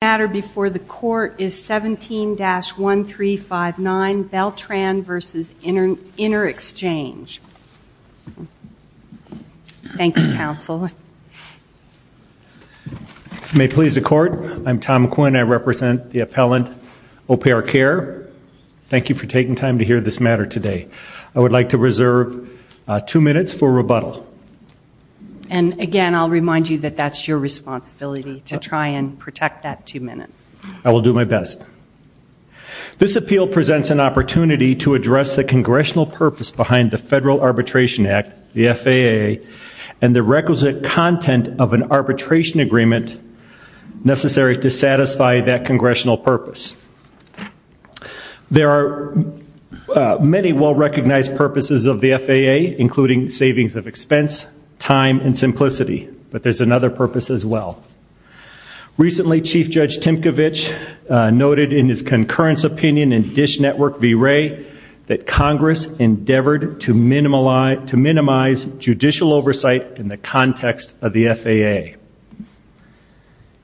The matter before the court is 17-1359 Beltran v. Interexchange. Thank you, counsel. If you may please the court, I'm Tom Quinn. I represent the appellant, AuPairCare. Thank you for taking time to hear this matter today. I would like to reserve two minutes for rebuttal. And again, I'll remind you that that's your responsibility to try and protect that two minutes. I will do my best. This appeal presents an opportunity to address the congressional purpose behind the Federal Arbitration Act, the FAA, and the requisite content of an arbitration agreement necessary to satisfy that congressional purpose. There are many well-recognized purposes of the FAA, including savings of expense, time, and simplicity. But there's another purpose as well. Recently, Chief Judge Timkovich noted in his concurrence opinion in Dish Network v. Wray that Congress endeavored to minimize judicial oversight in the context of the FAA.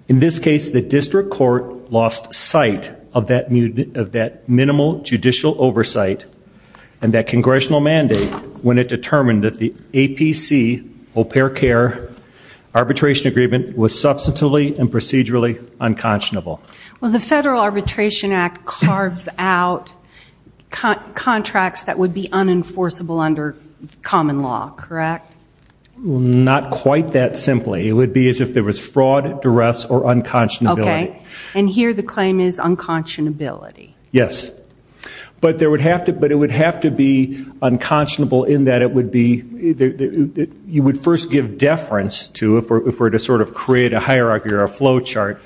In this case, the district court lost sight of that minimal judicial oversight and that congressional mandate when it determined that the APC, AuPairCare, arbitration agreement was substantively and procedurally unconscionable. Well, the Federal Arbitration Act carves out contracts that would be unenforceable under common law, correct? Well, not quite that simply. It would be as if there was fraud, duress, or unconscionability. Okay. And here the claim is unconscionability. Yes. But it would have to be unconscionable in that you would first give deference to, if we're to sort of create a hierarchy or a flowchart,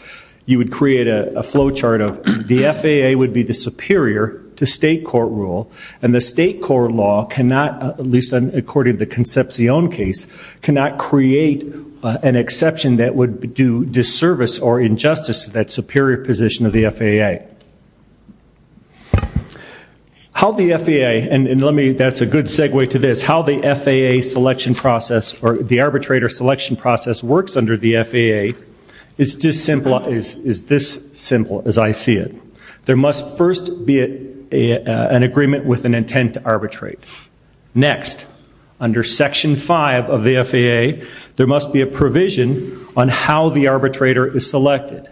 you would create a flowchart of the FAA would be the superior to state court rule, and the state court law cannot, at least according to the Concepcion case, cannot create an exception that would do disservice or injustice to that superior position of the FAA. How the FAA, and let me, that's a good segue to this, how the FAA selection process or the arbitrator selection process works under the FAA is this simple as I see it. There must first be an agreement with an intent to arbitrate. Next, under Section 5 of the FAA, there must be a provision on how the arbitrator is selected.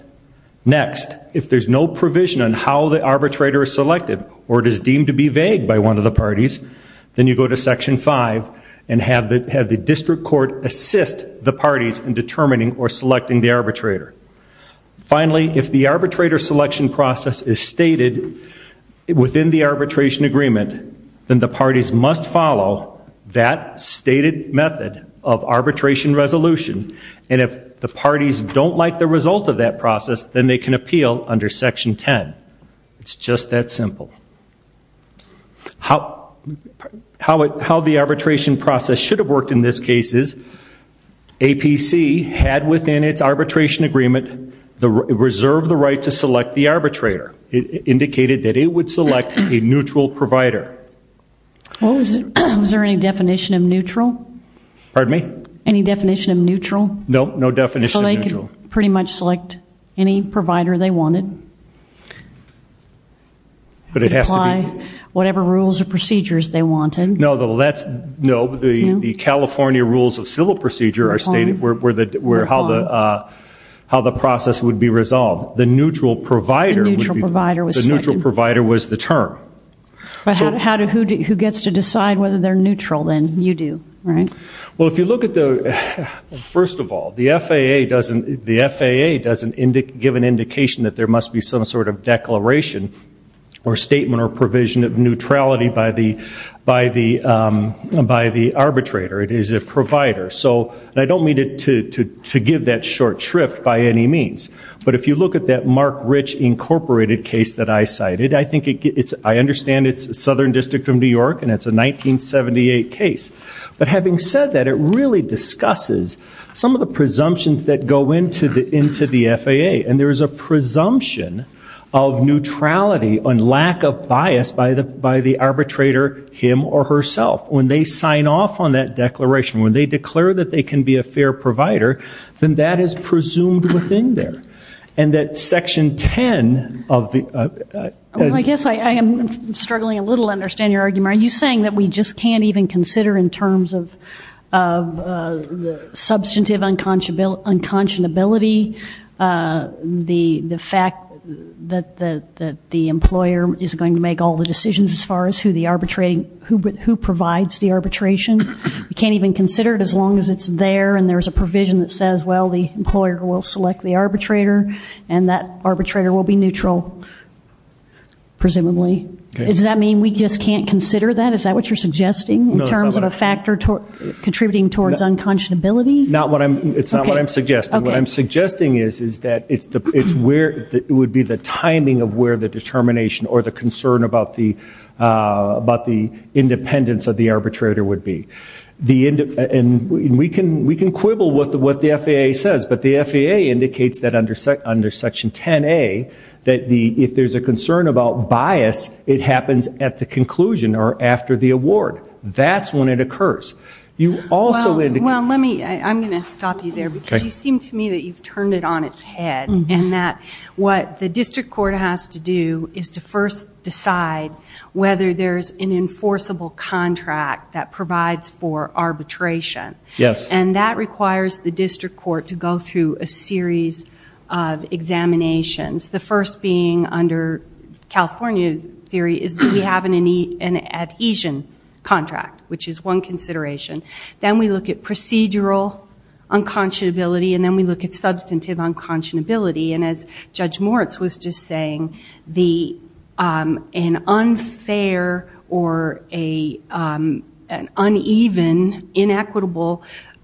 Next, if there's no provision on how the arbitrator is selected or it is deemed to be vague by one of the parties, then you go to Section 5 and have the district court assist the parties in determining or selecting the arbitrator. Finally, if the arbitrator selection process is stated within the arbitration agreement, then the parties must follow that stated method of arbitration resolution, and if the parties don't like the result of that process, then they can appeal under Section 10. It's just that simple. How the arbitration process should have worked in this case is that within its arbitration agreement, it reserved the right to select the arbitrator. It indicated that it would select a neutral provider. Was there any definition of neutral? Pardon me? Any definition of neutral? No, no definition of neutral. So they could pretty much select any provider they wanted? But it has to be. Apply whatever rules or procedures they wanted. No, the California rules of civil procedure are stated. How the process would be resolved. The neutral provider was the term. Who gets to decide whether they're neutral then? You do, right? Well, if you look at the first of all, the FAA doesn't give an indication that there must be some sort of declaration or statement or provision of neutrality by the arbitrator. It is a provider. And I don't mean to give that short shrift by any means. But if you look at that Mark Rich Incorporated case that I cited, I understand it's the Southern District of New York and it's a 1978 case. But having said that, it really discusses some of the presumptions that go into the FAA. And there is a presumption of neutrality and lack of bias by the arbitrator, him or herself. When they sign off on that declaration, when they declare that they can be a fair provider, then that is presumed within there. And that Section 10 of the ---- I guess I am struggling a little to understand your argument. Are you saying that we just can't even consider in terms of substantive unconscionability the fact that the employer is going to make all the decisions as far as who provides the arbitration? We can't even consider it as long as it's there and there's a provision that says, well, the employer will select the arbitrator and that arbitrator will be neutral, presumably. Does that mean we just can't consider that? Is that what you're suggesting in terms of a factor contributing towards unconscionability? It's not what I'm suggesting. What I'm suggesting is that it would be the timing of where the determination or the concern about the independence of the arbitrator would be. And we can quibble with what the FAA says, but the FAA indicates that under Section 10A, that if there's a concern about bias, it happens at the conclusion or after the award. That's when it occurs. Well, I'm going to stop you there because you seem to me that you've turned it on its head and that what the district court has to do is to first decide whether there's an enforceable contract that provides for arbitration. Yes. And that requires the district court to go through a series of examinations, the first being under California theory is that we have an adhesion contract, which is one consideration. Then we look at procedural unconscionability, and then we look at substantive unconscionability. And as Judge Moritz was just saying, an unfair or an uneven, inequitable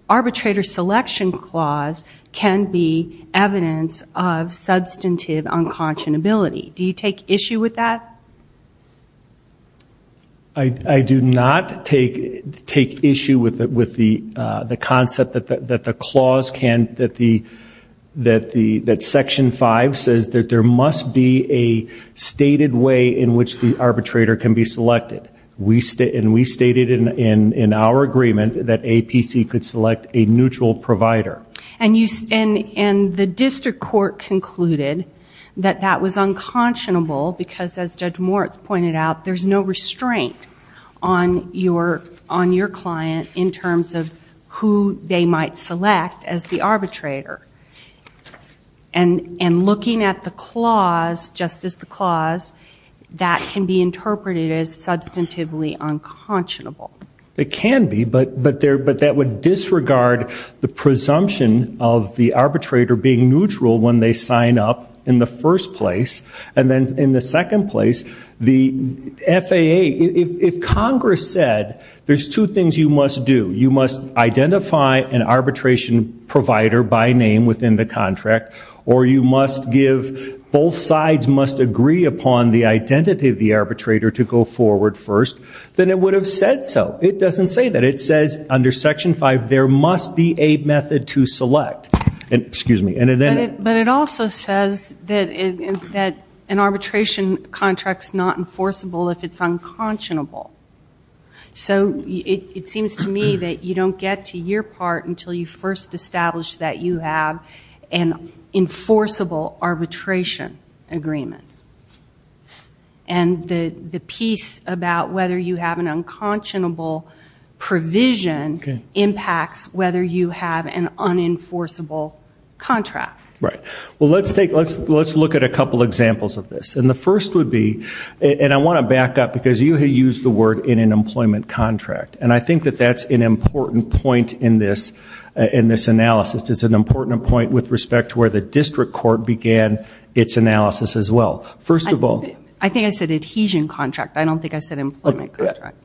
arbitrator selection clause can be evidence of substantive unconscionability. Do you take issue with that? I do not take issue with the concept that the clause can, that Section 5 says that there must be a stated way in which the arbitrator can be selected. And we stated in our agreement that APC could select a neutral provider. And the district court concluded that that was unconscionable because, as Judge Moritz pointed out, there's no restraint on your client in terms of who they might select as the arbitrator. And looking at the clause, just as the clause, that can be interpreted as substantively unconscionable. It can be, but that would disregard the presumption of the arbitrator being neutral when they sign up in the first place. And then in the second place, the FAA, if Congress said there's two things you must do, you must identify an arbitration provider by name within the contract, or you must give, both sides must agree upon the identity of the arbitrator to go forward first, then it would have said so. It doesn't say that. It says under Section 5 there must be a method to select. But it also says that an arbitration contract's not enforceable if it's unconscionable. So it seems to me that you don't get to your part until you first establish that you have an enforceable arbitration agreement. And the piece about whether you have an unconscionable provision impacts whether you have an unenforceable contract. Right. Well, let's look at a couple examples of this. And the first would be, and I want to back up because you had used the word in an employment contract, and I think that that's an important point in this analysis. It's an important point with respect to where the district court began its analysis as well. First of all. I think I said adhesion contract. I don't think I said employment contract.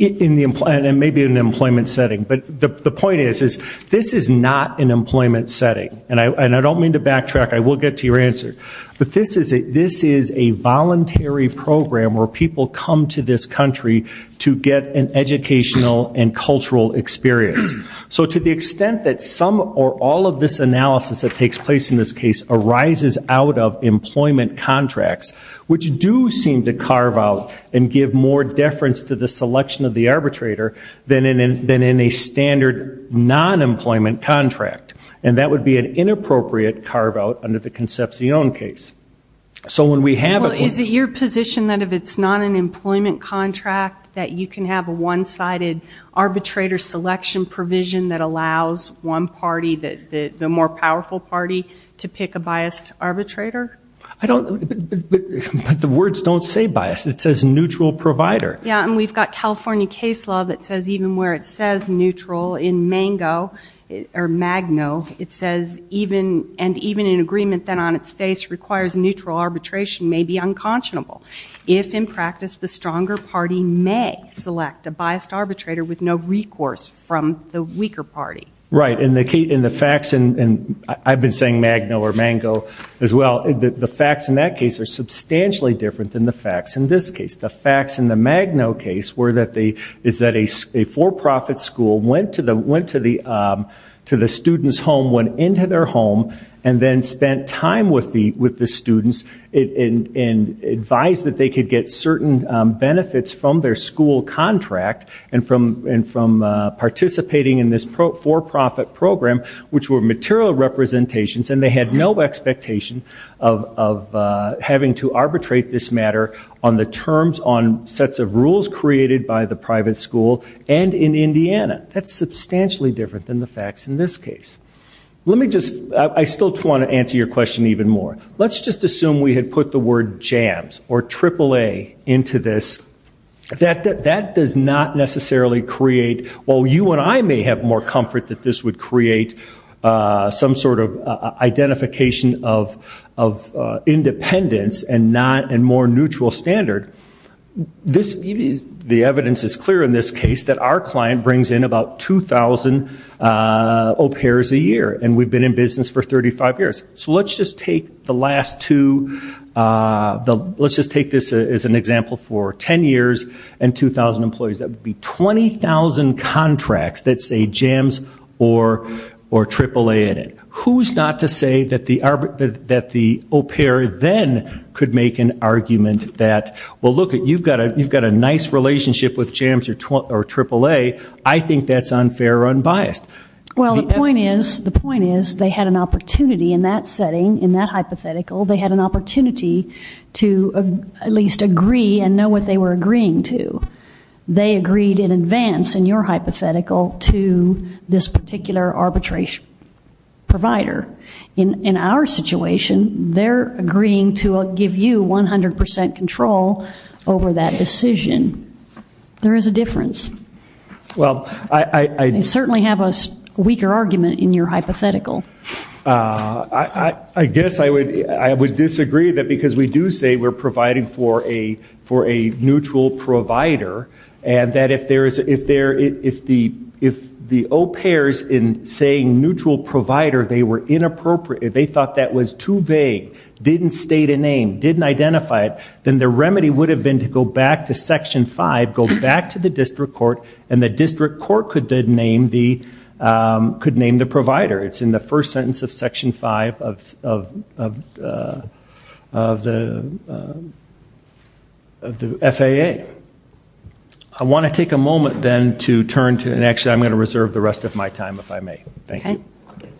Maybe in an employment setting. But the point is, this is not an employment setting. And I don't mean to backtrack. I will get to your answer. But this is a voluntary program where people come to this country to get an educational and cultural experience. So to the extent that some or all of this analysis that takes place in this case arises out of employment contracts, which do seem to carve out and give more deference to the selection of the arbitrator than in a standard non-employment contract. And that would be an inappropriate carve-out under the Concepcion case. So when we have a- Well, is it your position that if it's not an employment contract, that you can have a one-sided arbitrator selection provision that allows one party, the more powerful party, to pick a biased arbitrator? I don't, but the words don't say biased. It says neutral provider. Yeah, and we've got California case law that says even where it says neutral, in Mango or Magno, it says, and even in agreement then on its face, requires neutral arbitration may be unconscionable. If in practice, the stronger party may select a biased arbitrator with no recourse from the weaker party. Right. And the facts, and I've been saying Magno or Mango as well, the facts in that case are substantially different than the facts in this case. The facts in the Magno case is that a for-profit school went to the student's home, went into their home, and then spent time with the students and advised that they could get certain benefits from their school contract and from participating in this for-profit program, which were material representations, and they had no expectation of having to arbitrate this matter on the terms, on sets of rules created by the private school, and in Indiana. That's substantially different than the facts in this case. Let me just, I still want to answer your question even more. Let's just assume we had put the word jams or AAA into this. That does not necessarily create, well, you and I may have more comfort that this would create some sort of, identification of independence and more neutral standard. The evidence is clear in this case that our client brings in about 2,000 au pairs a year, and we've been in business for 35 years. So let's just take the last two, let's just take this as an example for 10 years and 2,000 employees. That would be 20,000 contracts that say jams or AAA in it. Who's not to say that the au pair then could make an argument that, well, look, you've got a nice relationship with jams or AAA. I think that's unfair or unbiased. Well, the point is they had an opportunity in that setting, in that hypothetical, they had an opportunity to at least agree and know what they were agreeing to. They agreed in advance in your hypothetical to this particular arbitration provider. In our situation, they're agreeing to give you 100% control over that decision. There is a difference. They certainly have a weaker argument in your hypothetical. I guess I would disagree, because we do say we're providing for a neutral provider, and that if the au pairs in saying neutral provider, they were inappropriate, they thought that was too vague, didn't state a name, didn't identify it, then the remedy would have been to go back to Section 5, go back to the district court, and the district court could name the provider. It's in the first sentence of Section 5 of the FAA. I want to take a moment then to turn to, and actually I'm going to reserve the rest of my time if I may. Thank you. Thank you.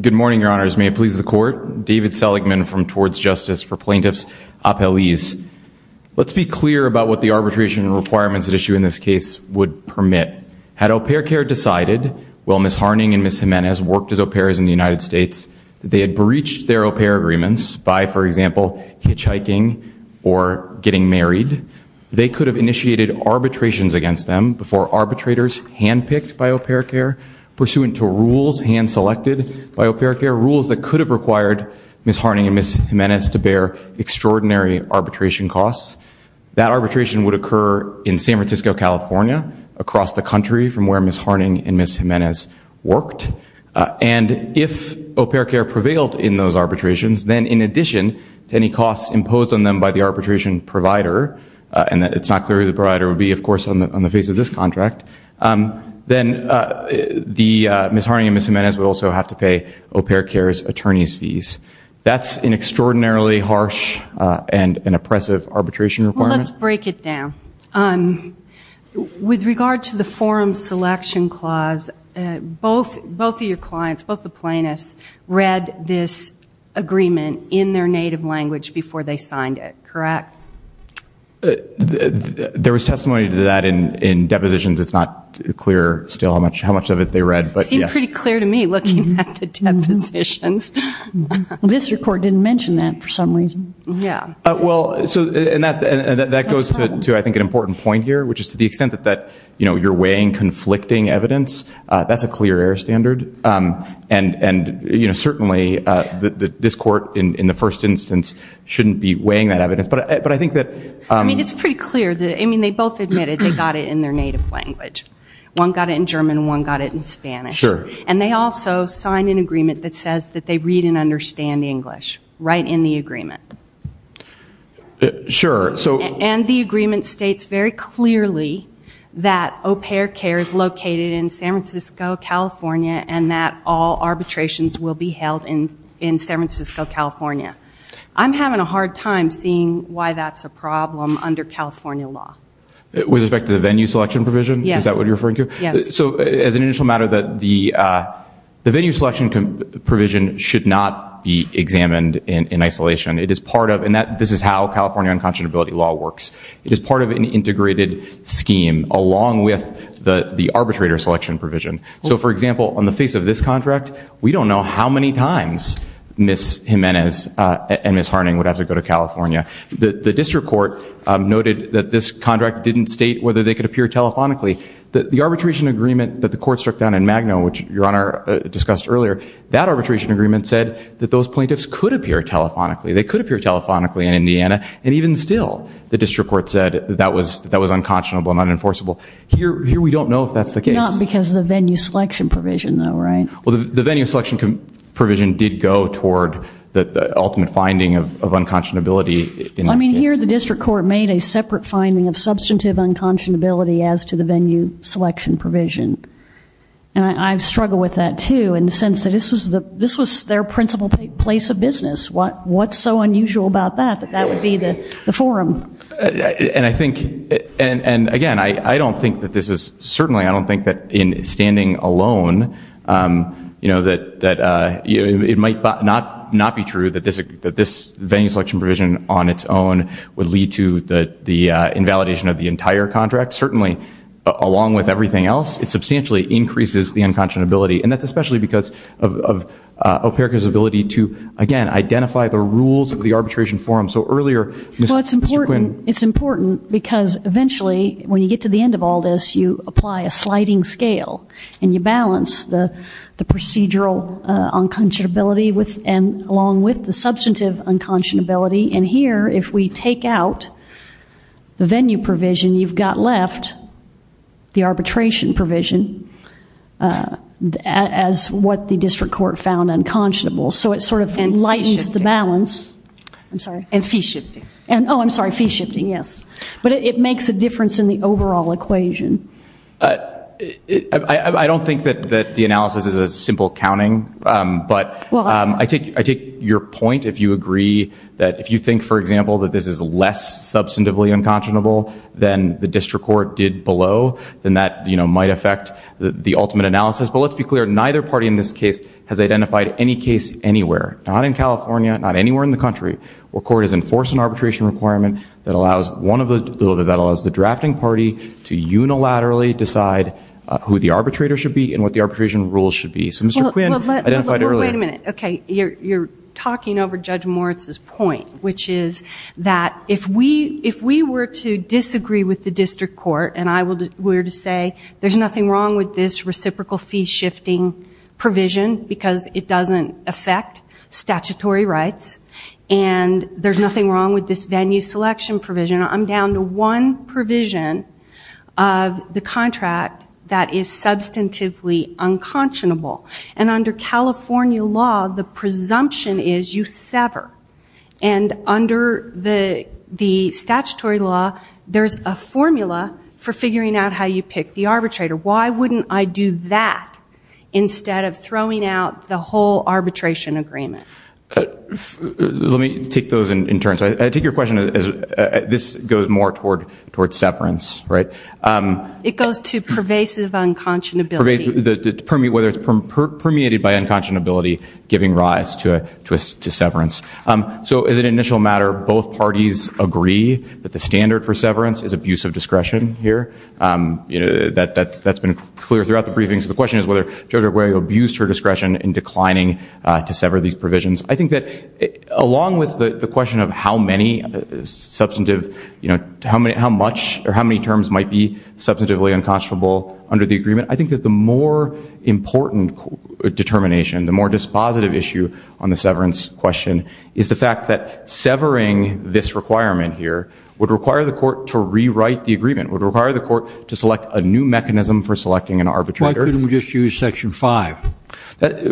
Good morning, Your Honors. May it please the Court. David Seligman from Towards Justice for Plaintiffs Appellees. Let's be clear about what the arbitration requirements at issue in this case would permit. Had Au Pair Care decided, while Ms. Harning and Ms. Jimenez worked as au pairs in the United States, that they had breached their au pair agreements by, for example, hitchhiking or getting married, they could have initiated arbitrations against them before arbitrators handpicked by Au Pair Care, pursuant to rules hand-selected by Au Pair Care, rules that could have required Ms. Harning and Ms. Jimenez to bear extraordinary arbitration costs. That arbitration would occur in San Francisco, California, across the country from where Ms. Harning and Ms. Jimenez worked. And if Au Pair Care prevailed in those arbitrations, then in addition to any costs imposed on them by the arbitration provider, and it's not clear who the provider would be, of course, on the face of this contract, then Ms. Harning and Ms. Jimenez would also have to pay Au Pair Care's attorney's fees. That's an extraordinarily harsh and an oppressive arbitration requirement. Well, let's break it down. With regard to the forum selection clause, both of your clients, both the plaintiffs, read this agreement in their native language before they signed it, correct? There was testimony to that in depositions. It's not clear still how much of it they read. It seemed pretty clear to me looking at the depositions. The district court didn't mention that for some reason. That goes to, I think, an important point here, which is to the extent that you're weighing conflicting evidence. That's a clear air standard. And certainly this court, in the first instance, shouldn't be weighing that evidence. It's pretty clear. They both admitted they got it in their native language. One got it in German and one got it in Spanish. And they also signed an agreement that says that they read and understand English, right in the agreement. And the agreement states very clearly that Au Pair Care is located in San Francisco, California, and that all arbitrations will be held in San Francisco, California. I'm having a hard time seeing why that's a problem under California law. With respect to the venue selection provision? Yes. Is that what you're referring to? Yes. So as an initial matter, the venue selection provision should not be examined in isolation. This is how California unconscionability law works. It is part of an integrated scheme along with the arbitrator selection provision. So, for example, on the face of this contract, we don't know how many times Ms. Jimenez and Ms. Harning would have to go to California. The district court noted that this contract didn't state whether they could appear telephonically. The arbitration agreement that the court struck down in Magno, which Your Honor discussed earlier, that arbitration agreement said that those plaintiffs could appear telephonically. They could appear telephonically in Indiana. And even still, the district court said that was unconscionable and unenforceable. Here we don't know if that's the case. Not because of the venue selection provision, though, right? Well, the venue selection provision did go toward the ultimate finding of unconscionability. I mean, here the district court made a separate finding of substantive unconscionability as to the venue selection provision. And I struggle with that, too, in the sense that this was their principal place of business. What's so unusual about that that that would be the forum? And I think, again, I don't think that this is certainly, I don't think that in standing alone, you know, that it might not be true that this venue selection provision on its own would lead to the invalidation of the entire contract. Certainly, along with everything else, it substantially increases the unconscionability. And that's especially because of OPERACA's ability to, again, identify the rules of the arbitration forum. Well, it's important because eventually, when you get to the end of all this, you apply a sliding scale. And you balance the procedural unconscionability along with the substantive unconscionability. And here, if we take out the venue provision, you've got left the arbitration provision as what the district court found unconscionable. So it sort of lightens the balance. I'm sorry. And fee shifting. Oh, I'm sorry. Fee shifting, yes. But it makes a difference in the overall equation. I don't think that the analysis is a simple counting. But I take your point if you agree that if you think, for example, that this is less substantively unconscionable than the district court did below, then that might affect the ultimate analysis. But let's be clear. Neither party in this case has identified any case anywhere, not in California, not anywhere in the country, where court has enforced an arbitration requirement that allows the drafting party to unilaterally decide who the arbitrator should be and what the arbitration rules should be. So Mr. Quinn identified earlier. Wait a minute. Okay. You're talking over Judge Moritz's point, which is that if we were to disagree with the district court and I were to say there's nothing wrong with this reciprocal fee shifting provision because it doesn't affect statutory rights and there's nothing wrong with this venue selection provision, I'm down to one provision of the contract that is substantively unconscionable. And under California law, the presumption is you sever. And under the statutory law, there's a formula for figuring out how you pick the arbitrator. Why wouldn't I do that instead of throwing out the whole arbitration agreement? Let me take those in turn. I take your question as this goes more towards severance, right? It goes to pervasive unconscionability. Whether it's permeated by unconscionability giving rise to severance. So as an initial matter, both parties agree that the standard for severance is abuse of discretion here. That's been clear throughout the briefing. So the question is whether Judge Arguello abused her discretion in declining to sever these provisions. I think that along with the question of how many terms might be substantively unconscionable under the agreement, I think that the more important determination, the more dispositive issue on the severance question is the fact that severing this requirement here would require the court to rewrite the agreement, would require the court to select a new mechanism for selecting an arbitrator. Why couldn't we just use Section 5?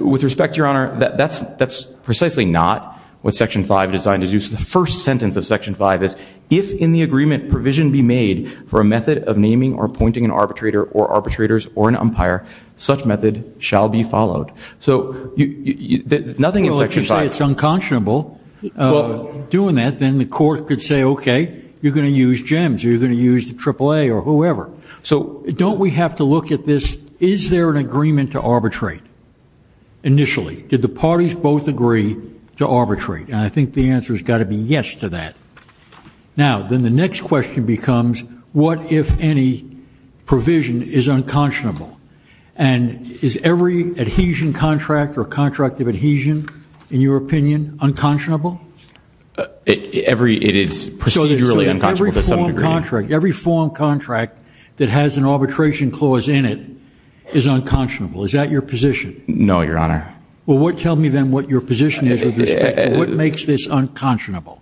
With respect, Your Honor, that's precisely not what Section 5 is designed to do. The first sentence of Section 5 is, if in the agreement provision be made for a method of naming or appointing an arbitrator or arbitrators or an umpire, such method shall be followed. So nothing in Section 5. Well, if you say it's unconscionable doing that, then the court could say, okay, you're going to use GEMS. You're going to use the AAA or whoever. So don't we have to look at this, is there an agreement to arbitrate initially? Did the parties both agree to arbitrate? And I think the answer has got to be yes to that. Now, then the next question becomes, what if any provision is unconscionable? And is every adhesion contract or contract of adhesion, in your opinion, unconscionable? It is procedurally unconscionable to some degree. So every form contract that has an arbitration clause in it is unconscionable. Is that your position? No, Your Honor. Well, tell me then what your position is with respect to what makes this unconscionable.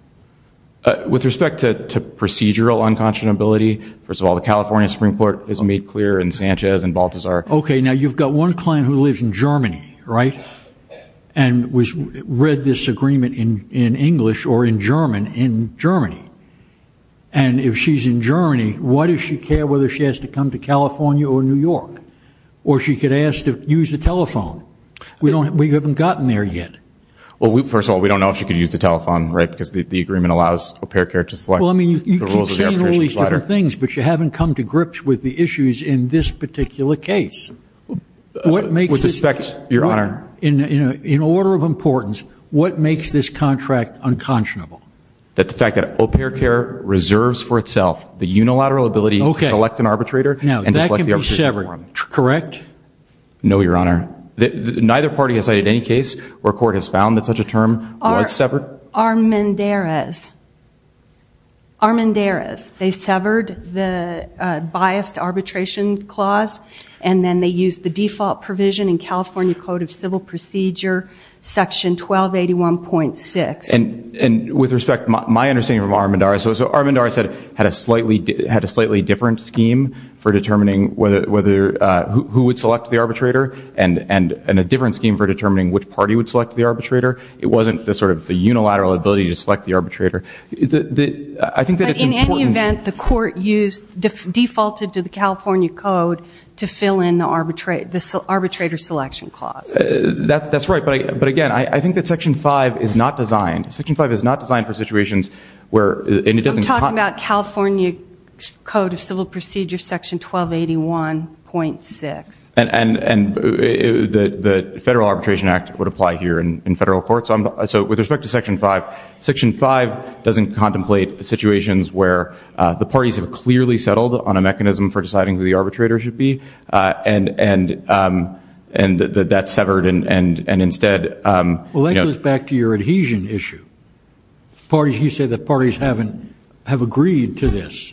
With respect to procedural unconscionability, first of all, the California Supreme Court has made clear in Sanchez and Baltazar. Okay, now you've got one client who lives in Germany, right, and read this agreement in English or in German in Germany. And if she's in Germany, why does she care whether she has to come to California or New York? Or she could ask to use the telephone. We haven't gotten there yet. Well, first of all, we don't know if she could use the telephone, right, because the agreement allows AuPairCare to select the rules of the arbitration. Well, I mean, you keep saying all these different things, but you haven't come to grips with the issues in this particular case. With respect, Your Honor. In order of importance, what makes this contract unconscionable? The fact that AuPairCare reserves for itself the unilateral ability to select an arbitrator and to select the arbitration form. Now, that can be severed, correct? No, Your Honor. Neither party has cited any case where court has found that such a term was severed? Armendariz. Armendariz. They severed the biased arbitration clause, and then they used the default provision in California Code of Civil Procedure, Section 1281.6. With respect, my understanding from Armendariz, Armendariz had a slightly different scheme for determining who would select the arbitrator, and a different scheme for determining which party would select the arbitrator. It wasn't the unilateral ability to select the arbitrator. In any event, the court defaulted to the California Code to fill in the arbitrator selection clause. That's right. But, again, I think that Section 5 is not designed, Section 5 is not designed for situations where, and it doesn't I'm talking about California Code of Civil Procedure, Section 1281.6. And the Federal Arbitration Act would apply here in federal court. So with respect to Section 5, Section 5 doesn't contemplate situations where the parties have clearly settled on a mechanism for deciding who the arbitrator should be, and that's severed, and instead Well, that goes back to your adhesion issue. You said that parties have agreed to this,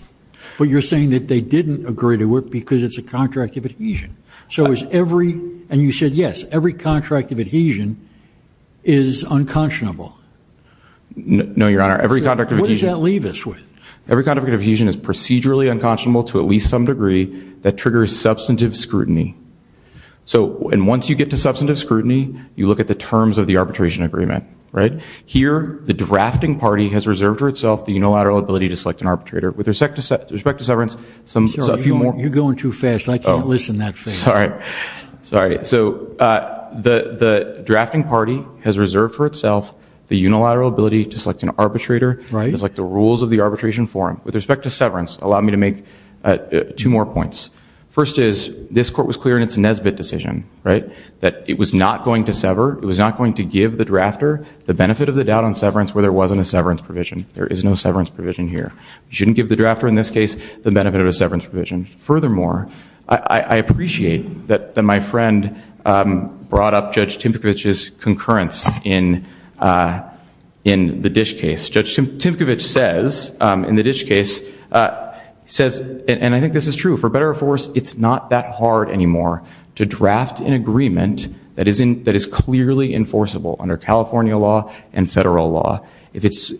but you're saying that they didn't agree to it because it's a contract of adhesion. And you said, yes, every contract of adhesion is unconscionable. No, Your Honor, every contract of adhesion What does that leave us with? Every contract of adhesion is procedurally unconscionable to at least some degree that triggers substantive scrutiny. And once you get to substantive scrutiny, you look at the terms of the arbitration agreement, right? Here, the drafting party has reserved for itself the unilateral ability to select an arbitrator. With respect to severance, some You're going too fast. I can't listen that fast. Sorry. Sorry. So the drafting party has reserved for itself the unilateral ability to select an arbitrator. Right. With respect to rules of the arbitration forum, with respect to severance, allow me to make two more points. First is, this court was clear in its Nesbitt decision, right, that it was not going to sever, it was not going to give the drafter the benefit of the doubt on severance where there wasn't a severance provision. There is no severance provision here. You shouldn't give the drafter, in this case, the benefit of a severance provision. Furthermore, I appreciate that my friend brought up Judge Timkovich's concurrence in the Dish case. Judge Timkovich says, in the Dish case, he says, and I think this is true, for better or for worse, it's not that hard anymore to draft an agreement that is clearly enforceable under California law and federal law. It's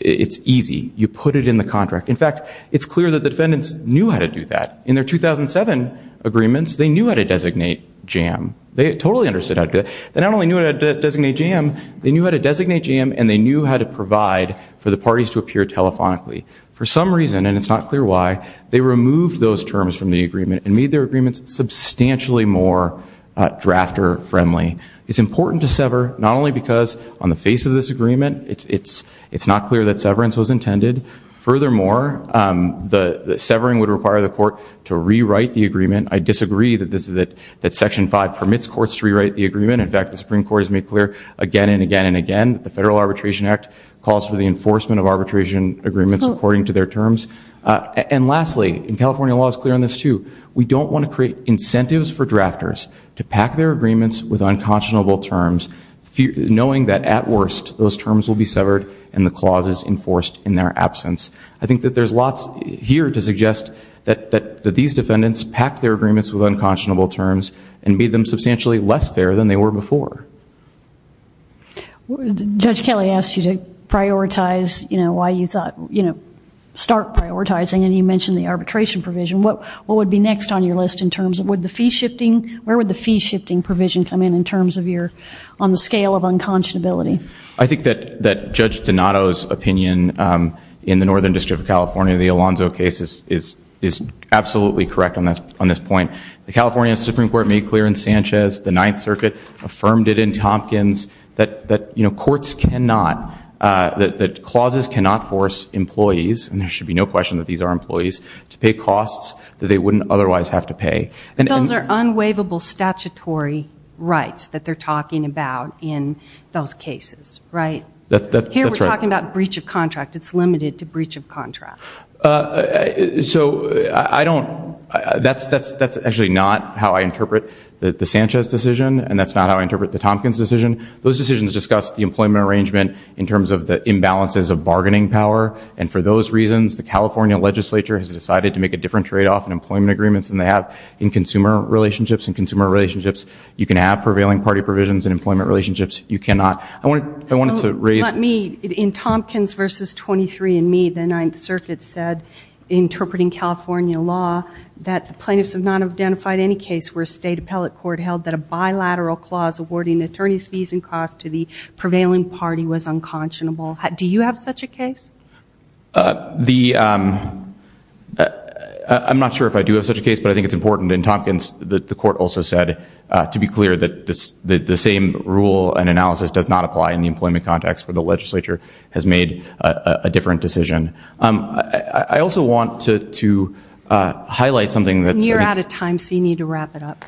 easy. You put it in the contract. In fact, it's clear that the defendants knew how to do that. In their 2007 agreements, they knew how to designate JAM. They totally understood how to do that. They not only knew how to designate JAM, they knew how to designate JAM and they knew how to provide for the parties to appear telephonically. For some reason, and it's not clear why, they removed those terms from the agreement and made their agreements substantially more drafter friendly. It's important to sever, not only because on the face of this agreement, it's not clear that severance was intended. Furthermore, the severing would require the court to rewrite the agreement. In fact, the Supreme Court has made clear again and again and again that the Federal Arbitration Act calls for the enforcement of arbitration agreements according to their terms. And lastly, and California law is clear on this too, we don't want to create incentives for drafters to pack their agreements with unconscionable terms, knowing that at worst those terms will be severed and the clauses enforced in their absence. I think that there's lots here to suggest that these defendants packed their agreements with unconscionable terms and made them substantially less fair than they were before. Judge Kelly asked you to prioritize, you know, why you thought, you know, start prioritizing and you mentioned the arbitration provision. What would be next on your list in terms of, would the fee shifting, where would the fee shifting provision come in in terms of your, on the scale of unconscionability? I think that Judge Donato's opinion in the Northern District of California, the Alonzo case, is absolutely correct on this point. The California Supreme Court made clear in Sanchez, the Ninth Circuit affirmed it in Tompkins, that courts cannot, that clauses cannot force employees, and there should be no question that these are employees, to pay costs that they wouldn't otherwise have to pay. Those are unwaivable statutory rights that they're talking about in those cases, right? That's right. Here we're talking about breach of contract. It's limited to breach of contract. So, I don't, that's actually not how I interpret the Sanchez decision, and that's not how I interpret the Tompkins decision. Those decisions discuss the employment arrangement in terms of the imbalances of bargaining power, and for those reasons, the California legislature has decided to make a different tradeoff in employment agreements than they have in consumer relationships. In consumer relationships, you can have prevailing party provisions. In employment relationships, you cannot. Let me, in Tompkins versus 23 and Me, the Ninth Circuit said, interpreting California law, that the plaintiffs have not identified any case where a state appellate court held that a bilateral clause awarding attorney's fees and costs to the prevailing party was unconscionable. Do you have such a case? I'm not sure if I do have such a case, but I think it's important. In Tompkins, the court also said, to be clear, that the same rule and analysis does not apply in the employment context where the legislature has made a different decision. I also want to highlight something that's... You're out of time, so you need to wrap it up.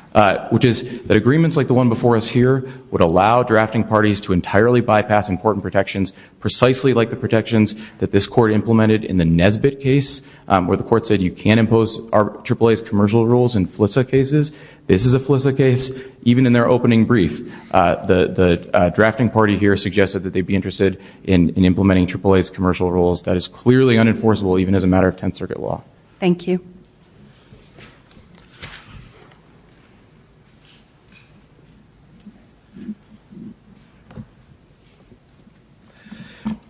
...which is that agreements like the one before us here would allow drafting parties to entirely bypass important protections, precisely like the protections that this court implemented in the Nesbitt case, where the court said you can't impose AAA's commercial rules in FLISA cases. This is a FLISA case. Even in their opening brief, the drafting party here suggested that they'd be interested in implementing AAA's commercial rules. That is clearly unenforceable, even as a matter of Tenth Circuit law. Thank you.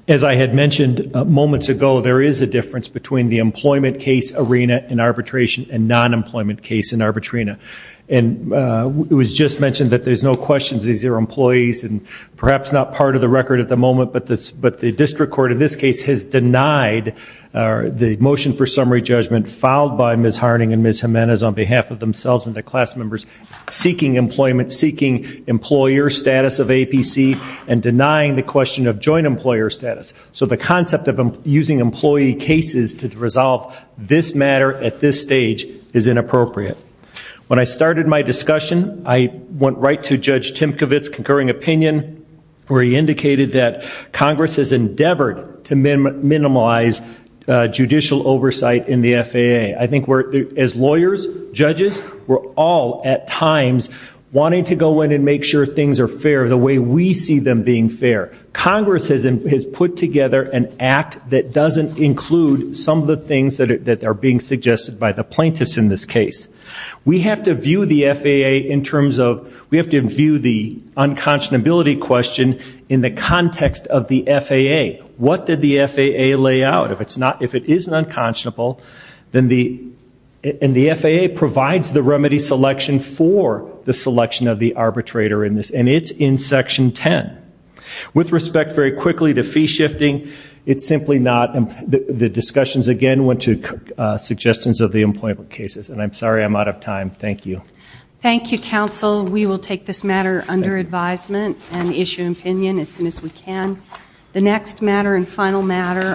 As I had mentioned moments ago, there is a difference between the employment case arena in arbitration and non-employment case in arbitrina. And it was just mentioned that there's no questions. These are employees and perhaps not part of the record at the moment, but the district court in this case has denied the motion for summary judgment filed by Ms. Harning and Ms. Jimenez on behalf of themselves and the class members seeking employment, seeking employer status of APC and denying the question of joint employer status. So the concept of using employee cases to resolve this matter at this stage is inappropriate. When I started my discussion, I went right to Judge Tymkiewicz's concurring opinion where he indicated that Congress has endeavored to minimize judicial oversight in the FAA. I think as lawyers, judges, we're all at times wanting to go in and make sure things are fair the way we see them being fair. Congress has put together an act that doesn't include some of the things that are being suggested by the plaintiffs in this case. We have to view the FAA in terms of we have to view the unconscionability question in the context of the FAA. What did the FAA lay out? If it isn't unconscionable, then the FAA provides the remedy selection for the selection of the arbitrator in this, and it's in Section 10. With respect very quickly to fee shifting, it's simply not. The discussions, again, went to suggestions of the employment cases, and I'm sorry I'm out of time. Thank you. Thank you, counsel. We will take this matter under advisement and issue an opinion as soon as we can. The next matter and final matter.